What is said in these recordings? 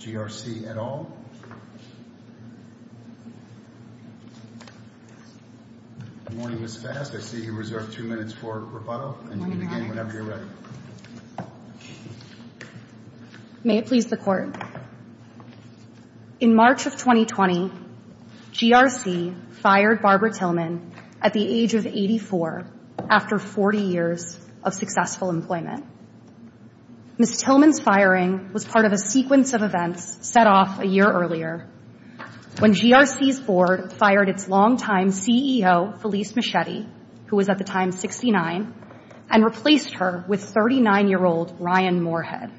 GRC, et al. Good morning, Ms. Fast. I see you reserved two minutes for rebuttal, and you can begin whenever you're ready. May it please the Court. In March of 2020, GRC fired Barbara Tillman at the age of 84 after 40 years of successful employment. Ms. Tillman's firing was part of a sequence of events set off a year earlier when GRC's board fired its longtime CEO, Felice Muschietti, who was at the time 69, and replaced her with 39-year-old Ryan Moorhead.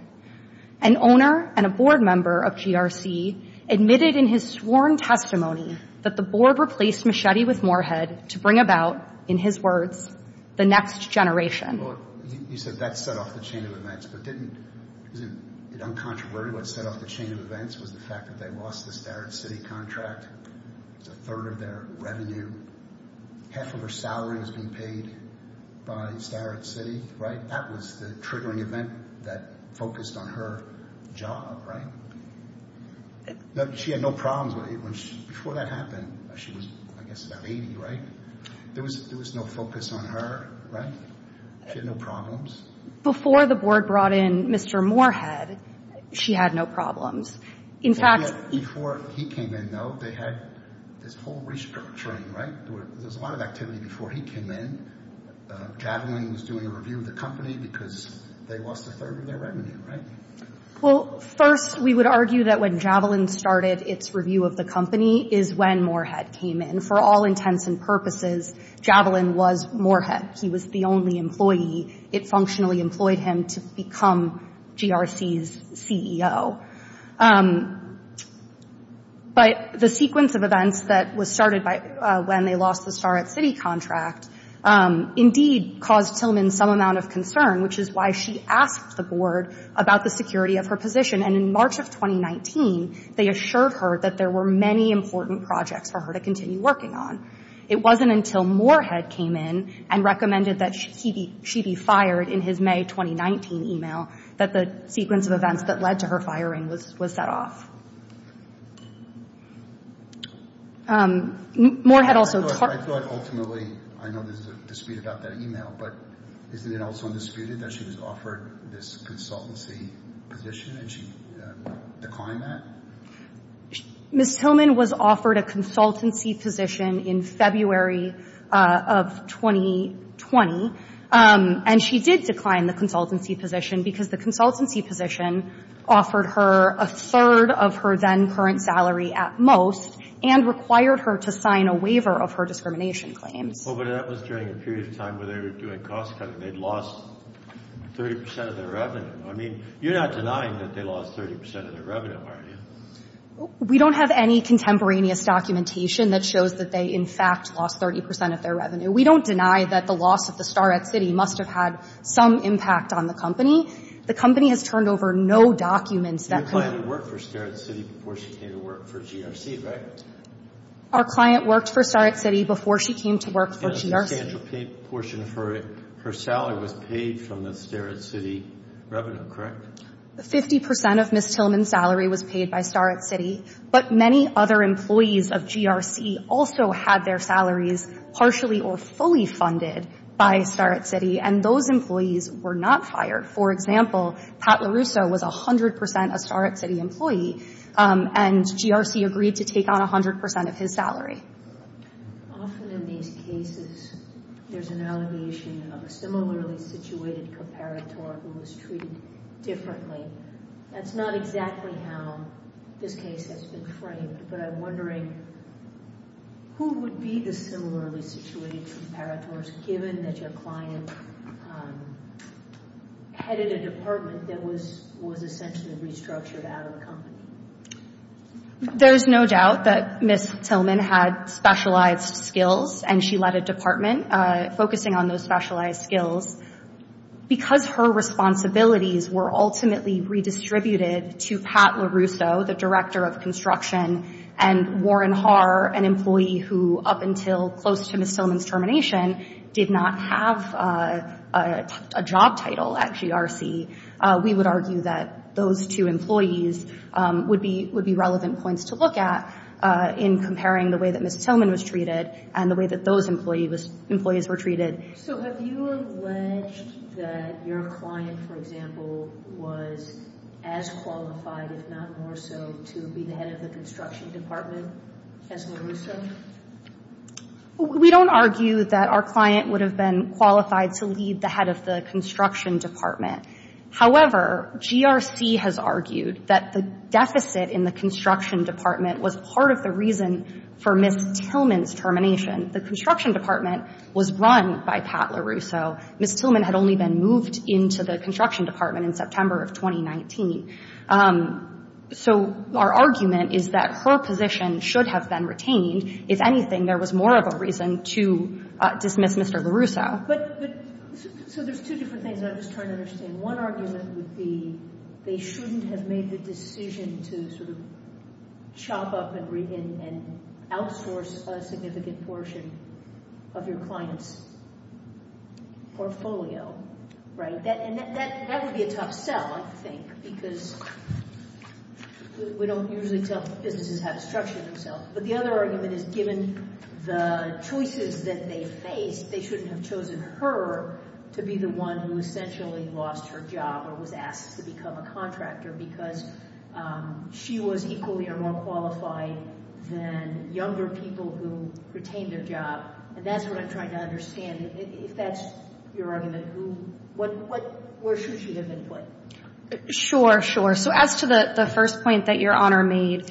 An owner and a board member of GRC admitted in his sworn testimony that the board replaced Muschietti with Moorhead to bring about, in his words, the next generation. You said that set off the chain of events, but didn't—isn't it uncontroverted what set off the chain of events was the fact that they lost the Starrett City contract, a third of their revenue, half of her salary was being paid by Starrett City, right? That was the triggering event that focused on her job, right? She had no problems when she—before that happened, she was, I guess, about 80, right? There was no focus on her, right? She had no problems. Before the board brought in Mr. Moorhead, she had no problems. In fact— Before he came in, though, they had this whole restructuring, right? There was a lot of activity before he came in. Javelin was doing a review of the company because they lost a third of their revenue, right? Well, first, we would argue that when Javelin started its review of the company is when Moorhead came in. For all intents and purposes, Javelin was Moorhead. He was the only employee. It functionally employed him to become GRC's CEO. But the sequence of events that was started by—when they lost the Starrett City contract indeed caused Tillman some amount of concern, which is why she asked the board about the security of her position, and in March of 2019, they assured her that there were many important projects for her to continue working on. It wasn't until Moorhead came in and recommended that she be fired in his May 2019 email that the sequence of events that led to her firing was set off. Moorhead also— I feel like ultimately—I know there's a dispute about that email, but isn't it also undisputed that she was offered this consultancy position and she declined that? Ms. Tillman was offered a consultancy position in February of 2020, and she did decline the consultancy position because the consultancy position offered her a third of her then current salary at most and required her to sign a waiver of her discrimination claims. Well, but that was during a period of time where they were doing cost cutting. They'd lost 30 percent of their revenue. I mean, you're not denying that they lost 30 percent of their revenue, are you? We don't have any contemporaneous documentation that shows that they, in fact, lost 30 percent of their revenue. We don't deny that the loss of the Starrett City must have had some impact on the company. The company has turned over no documents that— Your client worked for Starrett City before she came to work for GRC, right? Our client worked for Starrett City before she came to work for GRC. The financial portion of her salary was paid from the Starrett City revenue, correct? Fifty percent of Ms. Tillman's salary was paid by Starrett City, but many other employees of GRC also had their salaries partially or fully funded by Starrett City, and those employees were not fired. For example, Pat LaRusso was 100 percent a Starrett City employee, and GRC agreed to take on 100 percent of his salary. Often in these cases, there's an allegation of a similarly situated comparator who was treated differently. That's not exactly how this case has been framed, but I'm wondering who would be the similarly situated comparators, given that your client headed a department that was essentially restructured out of the company? There's no doubt that Ms. Tillman had specialized skills, and she led a department focusing on those specialized skills. Because her responsibilities were ultimately redistributed to Pat LaRusso, the director of construction, and Warren Haar, an employee who up until close to Ms. Tillman's termination did not have a job title at GRC, we would argue that those two employees would be relevant points to look at in comparing the way that Ms. Tillman was treated and the way that those employees were treated. So have you alleged that your client, for example, was as qualified, if not more so, to be the head of the construction department as LaRusso? We don't argue that our client would have been qualified to lead the head of the construction department. However, GRC has argued that the deficit in the construction department was part of the reason for Ms. Tillman's termination. The construction department was run by Pat LaRusso. Ms. Tillman had only been moved into the construction department in September of 2019. So our argument is that her position should have been retained. If anything, there was more of a reason to dismiss Mr. LaRusso. But so there's two different things I was trying to understand. One argument would be they shouldn't have made the decision to sort of chop up and outsource a significant portion of your client's portfolio, right? And that would be a tough sell, I think, because we don't usually tell businesses how to structure themselves. But the other argument is given the choices that they faced, they shouldn't have chosen her to be the one who essentially lost her job or was asked to become a contractor because she was equally or more qualified than younger people who retained their job. And that's what I'm trying to understand. If that's your argument, who, what, where should she have been put? Sure, sure. So as to the first point that Your Honor made,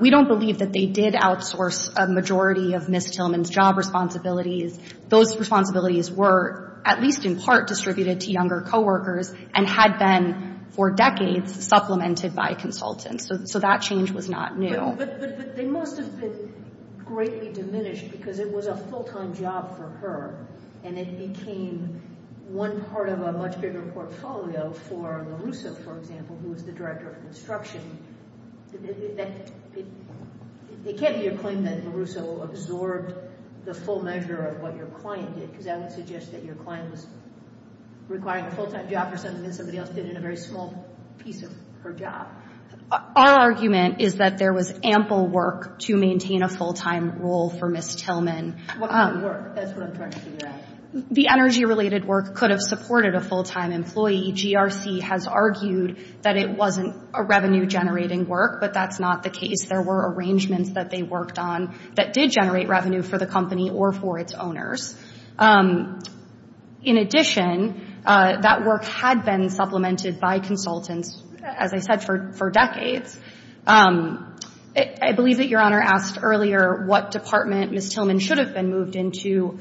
we don't believe that they did outsource a majority of Ms. Tillman's job responsibilities. Those responsibilities were at least in part distributed to younger coworkers and had been for decades supplemented by consultants. So that change was not new. But they must have been greatly diminished because it was a full-time job for her and it became one part of a much bigger portfolio for LaRusso, for example, who was the director of construction. It can't be a claim that LaRusso absorbed the full measure of what your client did, because that would suggest that your client was requiring a full-time job for something that somebody else did in a very small piece of her job. Our argument is that there was ample work to maintain a full-time role for Ms. Tillman. What kind of work? That's what I'm trying to figure out. The energy-related work could have supported a full-time employee. GRC has argued that it wasn't a revenue-generating work, but that's not the case. There were arrangements that they worked on that did generate revenue for the company or for its owners. In addition, that work had been supplemented by consultants, as I said, for decades. I believe that Your Honor asked earlier what department Ms. Tillman should have been moved into.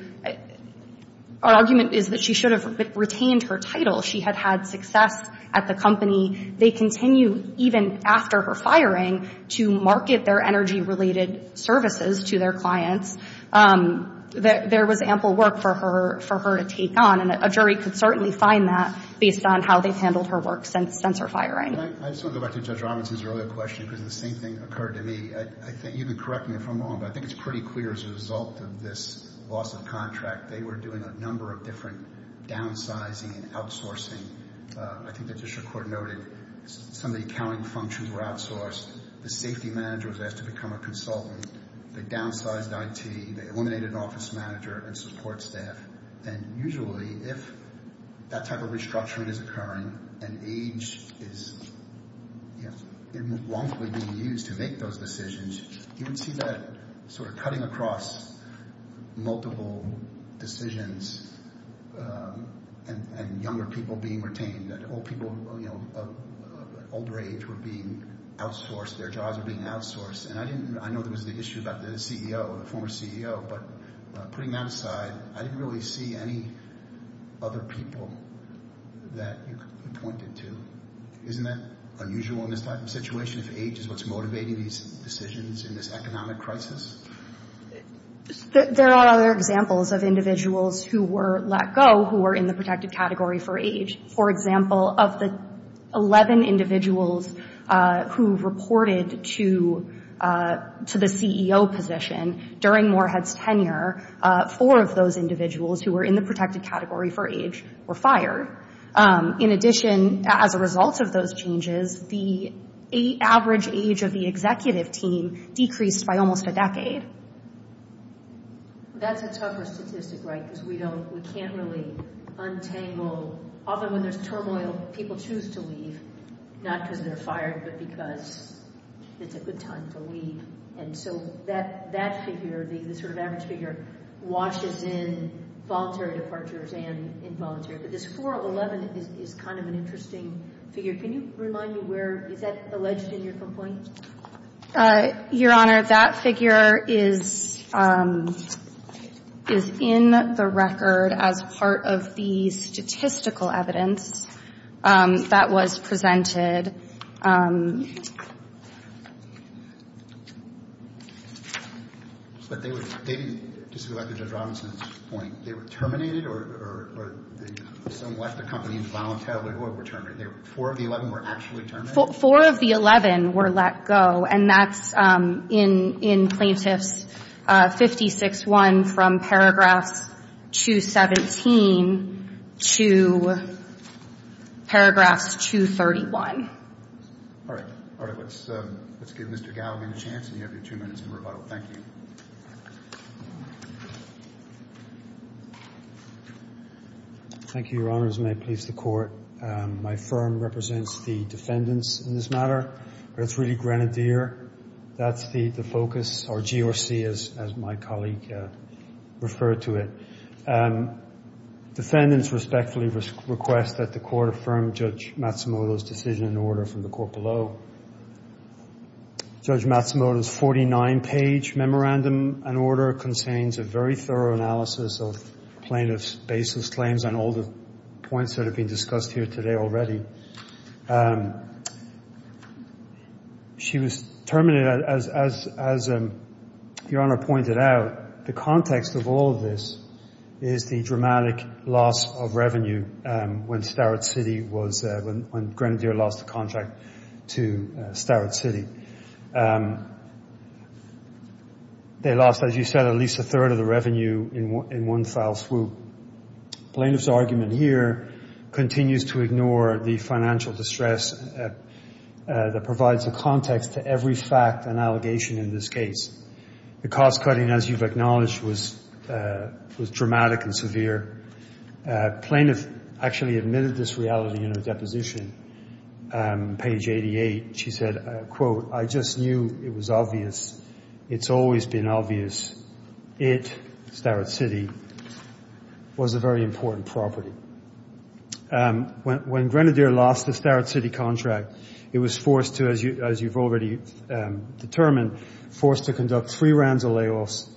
Our argument is that she should have retained her title. She had had success at the company. They continue, even after her firing, to market their energy-related services to their clients. There was ample work for her to take on, and a jury could certainly find that based on how they've handled her work since her firing. I just want to go back to Judge Robinson's earlier question, because the same thing occurred to me. I think you can correct me if I'm wrong, but I think it's pretty clear as a result of this loss of contract, they were doing a number of different downsizing and outsourcing. I think the district court noted some of the accounting functions were outsourced. The safety manager was asked to become a consultant. They downsized IT. They eliminated an office manager and support staff. Usually, if that type of restructuring is occurring and age is wrongfully being used to make those decisions, you would see that sort of cutting across multiple decisions and younger people being retained. Older age were being outsourced. Their jobs were being outsourced. I know there was the issue about the CEO, the former CEO, but putting that aside, I didn't really see any other people that you could point it to. Isn't that unusual in this type of situation if age is what's motivating these decisions in this economic crisis? There are other examples of individuals who were let go who were in the protected category for age. For example, of the 11 individuals who reported to the CEO position during Morehead's tenure, four of those individuals who were in the protected category for age were fired. In addition, as a result of those changes, the average age of the executive team decreased by almost a decade. That's a tougher statistic, right? Because we can't really untangle... Often when there's turmoil, people choose to leave, not because they're fired, but because it's a good time to leave. And so that figure, the sort of average figure, washes in voluntary departures and involuntary. But this 4 of 11 is kind of an interesting figure. Can you remind me where... Is that alleged in your complaint? Your Honor, that figure is in the record as part of the statistical evidence that was presented. But they didn't diselect Judge Robinson's point. They were terminated or some left the company involuntarily or were terminated? Four of the 11 were actually terminated? Four of the 11 were let go, and that's in Plaintiff's 56-1 from Paragraphs 217 to Paragraphs 231. All right. All right. Let's give Mr. Galligan a chance, and you have your two minutes to rebuttal. Thank you. Thank you, Your Honors, and may it please the Court. My firm represents the defendants in this matter, but it's really Grenadier. That's the focus, or GRC, as my colleague referred to it. Defendants respectfully request that the Court affirm Judge Matsumoto's decision and order from the Court below. Judge Matsumoto's 49-page memorandum and order contains a very thorough analysis of plaintiff's baseless claims and all the points that have been discussed here today already. She was terminated, as Your Honor pointed out. The context of all of this is the dramatic loss of revenue when Grenadier lost the contract to Starrett City. They lost, as you said, at least a third of the revenue in one foul swoop. Plaintiff's argument here continues to ignore the financial distress that provides a context to every fact and allegation in this case. The cost-cutting, as you've acknowledged, was dramatic and severe. Plaintiff actually admitted this reality in her deposition. Page 88, she said, quote, I just knew it was obvious. It's always been obvious. It, Starrett City, was a very important property. When Grenadier lost the Starrett City contract, it was forced to, as you've already determined, forced to conduct three rounds of layoffs,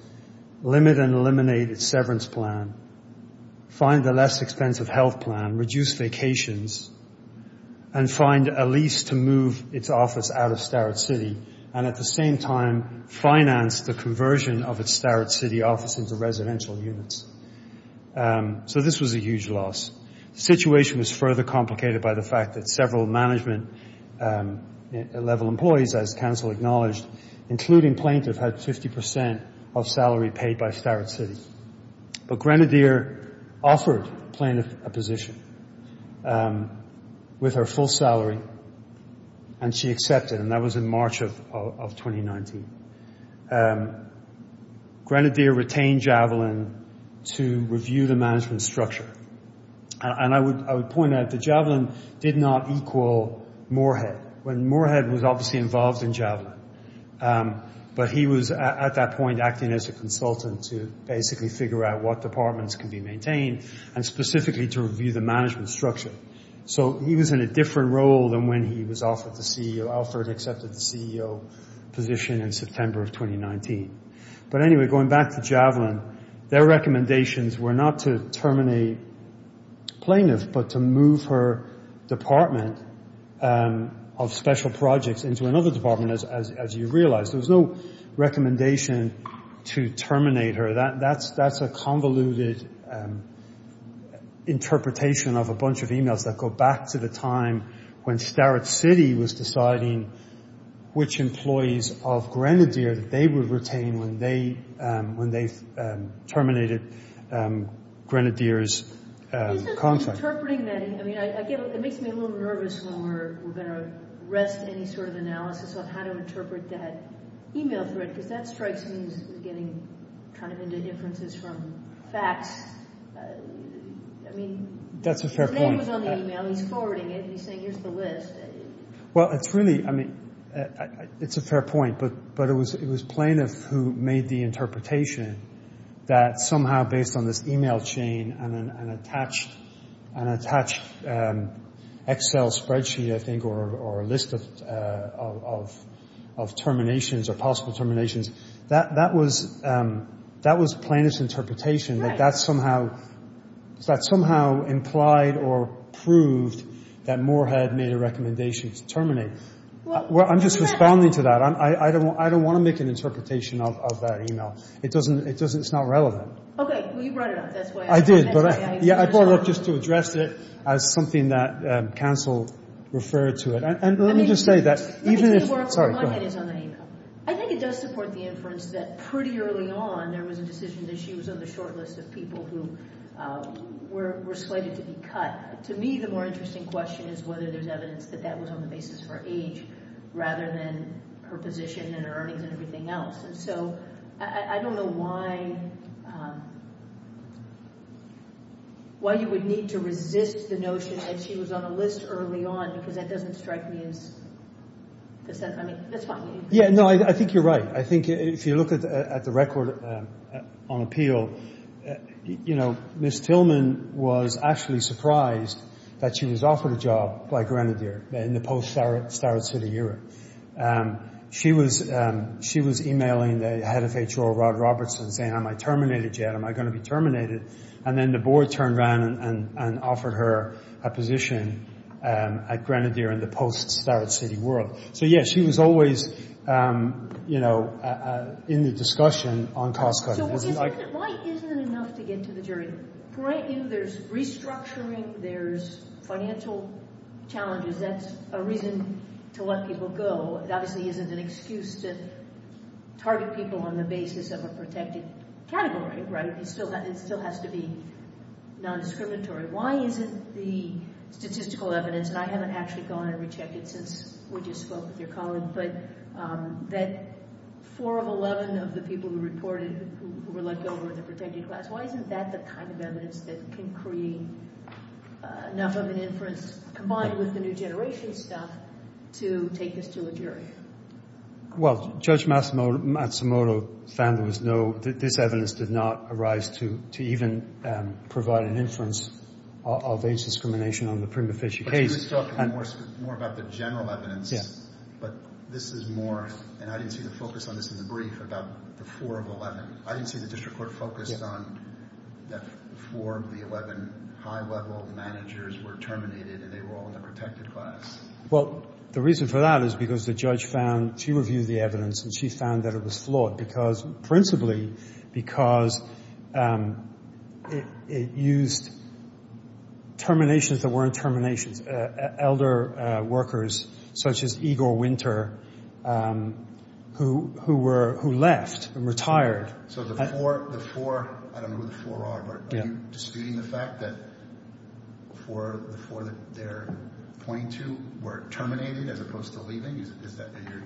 limit and eliminate its severance plan, find a less expensive health plan, reduce vacations, and find a lease to move its office out of Starrett City, and at the same time, finance the conversion of its Starrett City office into residential units. So this was a huge loss. The situation was further complicated by the fact that several management-level employees, as counsel acknowledged, including plaintiff, had 50% of salary paid by Starrett City. But Grenadier offered plaintiff a position with her full salary, and she accepted, and that was in March of 2019. Grenadier retained Javelin to review the management structure. And I would point out that Javelin did not equal Moorhead, when Moorhead was obviously involved in Javelin. But he was at that point acting as a consultant to basically figure out what departments could be maintained, and specifically to review the management structure. So he was in a different role than when he was offered the CEO, Alfred accepted the CEO position in September of 2019. But anyway, going back to Javelin, their recommendations were not to terminate plaintiff, but to move her department of special projects into another department, as you realize. There was no recommendation to terminate her. That's a convoluted interpretation of a bunch of emails that go back to the time when Starrett City was deciding which employees of Grenadier that they would retain when they terminated Grenadier's contract. Interpreting that, I mean, it makes me a little nervous when we're going to rest any sort of analysis on how to interpret that email thread, because that strikes me as getting kind of into inferences from facts. I mean, his name was on the email, he's forwarding it, and he's saying here's the list. Well, it's really, I mean, it's a fair point, but it was plaintiff who made the interpretation that somehow based on this email chain and an attached Excel spreadsheet, I think, or a list of terminations or possible terminations, that was plaintiff's interpretation. That somehow implied or proved that Moore had made a recommendation to terminate. Well, I'm just responding to that. I don't want to make an interpretation of that email. It doesn't, it's not relevant. Okay. Well, you brought it up. I did, but I brought it up just to address it as something that counsel referred to it. And let me just say that even if, sorry, go ahead. I think it does support the inference that pretty early on there was a decision that she was on the short list of people who were slated to be cut. To me, the more interesting question is whether there's evidence that that was on the basis for age rather than her position and earnings and everything else. And so I don't know why you would need to resist the notion that she was on a list early on because that doesn't strike me as, I mean, that's fine. Yeah, no, I think you're right. I think if you look at the record on appeal, you know, Ms. Tillman was actually surprised that she was offered a job by Grenadier in the post-Starrett City era. She was emailing the head of HR, Rod Robertson, saying, am I terminated yet? Am I going to be terminated? And then the board turned around and offered her a position at Grenadier in the post-Starrett City world. So, yeah, she was always, you know, in the discussion on cost cutting. So why isn't it enough to get to the jury? There's restructuring. There's financial challenges. That's a reason to let people go. It obviously isn't an excuse to target people on the basis of a protected category, right? It still has to be nondiscriminatory. Why isn't the statistical evidence, and I haven't actually gone and rechecked it since we just spoke with your colleague, but that four of 11 of the people who reported who were let go were in the protected class, why isn't that the kind of evidence that can create enough of an inference combined with the new generation stuff to take this to a jury? Well, Judge Matsumoto found there was no—this evidence did not arise to even provide an inference of age discrimination on the Prima Facie case. You were talking more about the general evidence, but this is more—and I didn't see the focus on this in the brief—about the four of 11. I didn't see the district court focused on that four of the 11 high-level managers were terminated and they were all in the protected class. Well, the reason for that is because the judge found—she reviewed the evidence and she found that it was flawed, principally because it used terminations that weren't terminations, elder workers such as Igor Winter who left and retired. So the four—I don't know who the four are, but are you disputing the fact that the four that they're pointing to were terminated as opposed to leaving? Are you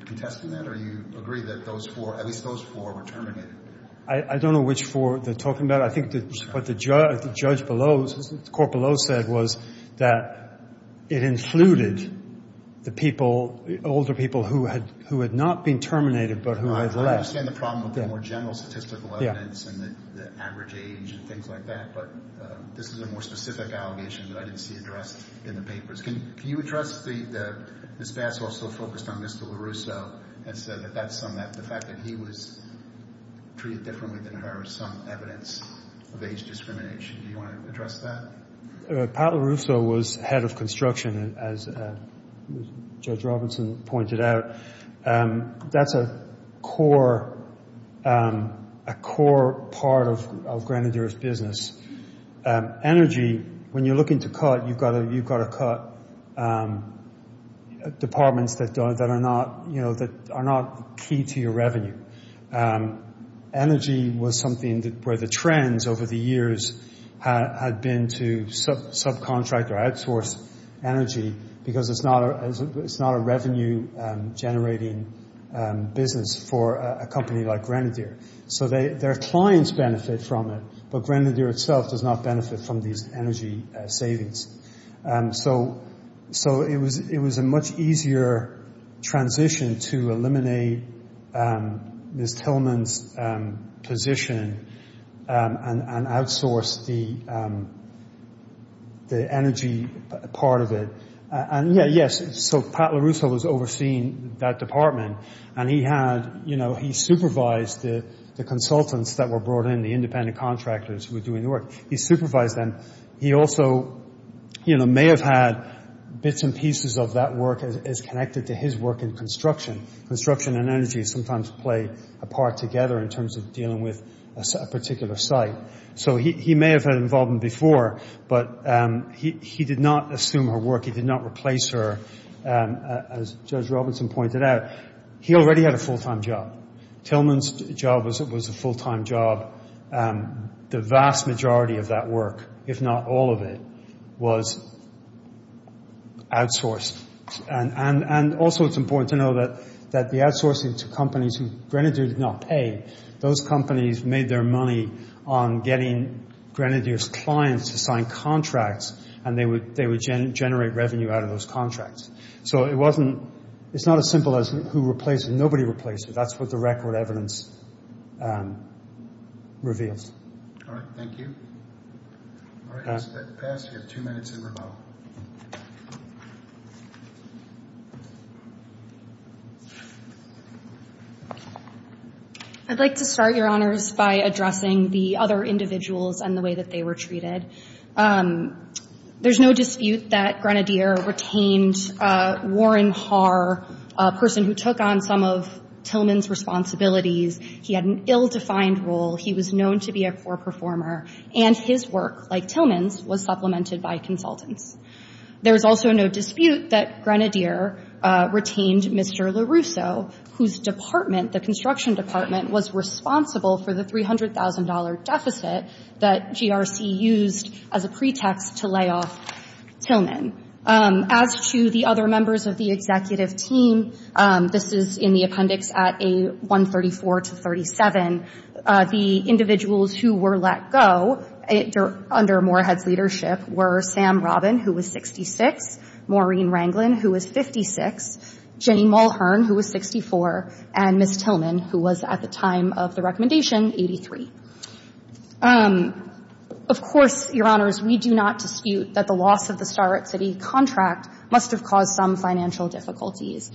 contesting that or do you agree that at least those four were terminated? I don't know which four they're talking about. I think what the court below said was that it included the older people who had not been terminated but who had left. I understand the problem with the more general statistical evidence and the average age and things like that, but this is a more specific allegation that I didn't see addressed in the papers. Can you address—Ms. Bass also focused on Mr. LaRusso and said that the fact that he was treated differently than her is some evidence of age discrimination. Do you want to address that? Pat LaRusso was head of construction, as Judge Robinson pointed out. That's a core part of Grenadier's business. Energy, when you're looking to cut, you've got to cut departments that are not key to your revenue. Energy was something where the trends over the years had been to subcontract or outsource energy because it's not a revenue-generating business for a company like Grenadier. So their clients benefit from it, but Grenadier itself does not benefit from these energy savings. So it was a much easier transition to eliminate Ms. Tillman's position and outsource the energy part of it. Yes, so Pat LaRusso was overseeing that department and he supervised the consultants that were brought in, the independent contractors who were doing the work. He supervised them. He also may have had bits and pieces of that work as connected to his work in construction. Construction and energy sometimes play a part together in terms of dealing with a particular site. So he may have had involvement before, but he did not assume her work. He did not replace her, as Judge Robinson pointed out. He already had a full-time job. Tillman's job was a full-time job. The vast majority of that work, if not all of it, was outsourced. And also it's important to know that the outsourcing to companies who Grenadier did not pay, those companies made their money on getting Grenadier's clients to sign contracts and they would generate revenue out of those contracts. So it's not as simple as who replaced her. Nobody replaced her. That's what the record evidence reveals. All right, thank you. All right, let's pass. You have two minutes to rebuttal. I'd like to start, Your Honors, by addressing the other individuals and the way that they were treated. There's no dispute that Grenadier retained Warren Haar, a person who took on some of Tillman's responsibilities. He had an ill-defined role. He was known to be a poor performer, and his work, like Tillman's, was supplemented by consultants. There's also no dispute that Grenadier retained Mr. LaRusso, whose department, the construction department, was responsible for the $300,000 deficit that GRC used as a pretext to lay off Tillman. As to the other members of the executive team, this is in the appendix at A134 to 37, the individuals who were let go under Moorhead's leadership were Sam Robin, who was 66, Maureen Ranglin, who was 56, Jenny Mulhern, who was 64, and Ms. Tillman, who was, at the time of the recommendation, 83. Of course, Your Honors, we do not dispute that the loss of the Starrett City contract must have caused some financial difficulties.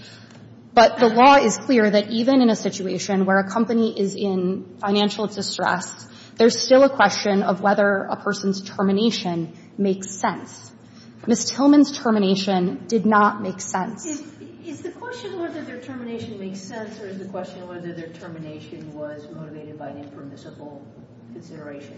But the law is clear that even in a situation where a company is in financial distress, there's still a question of whether a person's termination makes sense. Ms. Tillman's termination did not make sense. Is the question whether their termination makes sense, or is the question whether their termination was motivated by an impermissible consideration?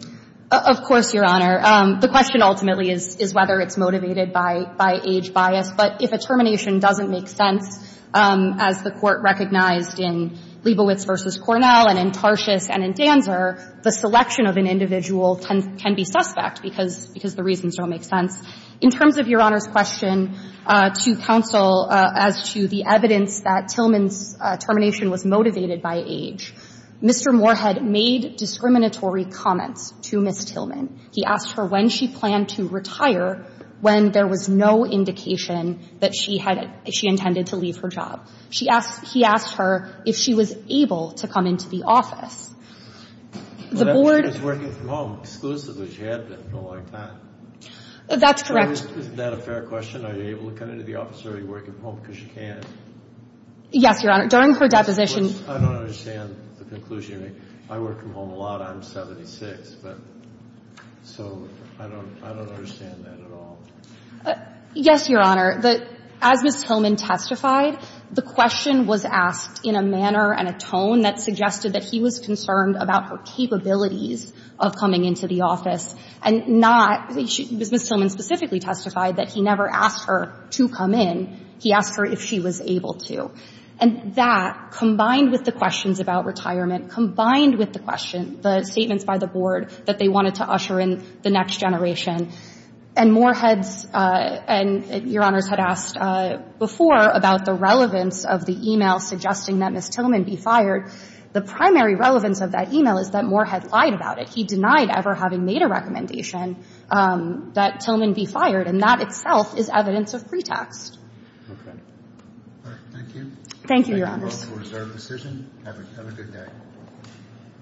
Of course, Your Honor. The question ultimately is whether it's motivated by age bias. But if a termination doesn't make sense, as the Court recognized in Leibowitz v. Cornell and in Tarshis and in Danzer, the selection of an individual can be suspect because the reasons don't make sense. In terms of Your Honor's question to counsel as to the evidence that Tillman's termination was motivated by age, Mr. Moorhead made discriminatory comments to Ms. Tillman. He asked her when she planned to retire, when there was no indication that she had – she intended to leave her job. She asked – he asked her if she was able to come into the office. The board – She was working from home exclusively. She had been for a long time. That's correct. Isn't that a fair question? Are you able to come into the office, or are you working from home because you can't? Yes, Your Honor. During her deposition – I don't understand the conclusion you make. I work from home a lot. I'm 76. So I don't – I don't understand that at all. Yes, Your Honor. As Ms. Tillman testified, the question was asked in a manner and a tone that suggested that he was concerned about her capabilities of coming into the office and not – Ms. Tillman specifically testified that he never asked her to come in. He asked her if she was able to. And that, combined with the questions about retirement, combined with the question – the statements by the board that they wanted to usher in the next generation. And Moorhead's – and Your Honors had asked before about the relevance of the email suggesting that Ms. Tillman be fired. The primary relevance of that email is that Moorhead lied about it. He denied ever having made a recommendation that Tillman be fired, and that itself is evidence of pretext. Okay. All right. Thank you. Thank you, Your Honors. Thank you both for reserving the decision. Have a good day.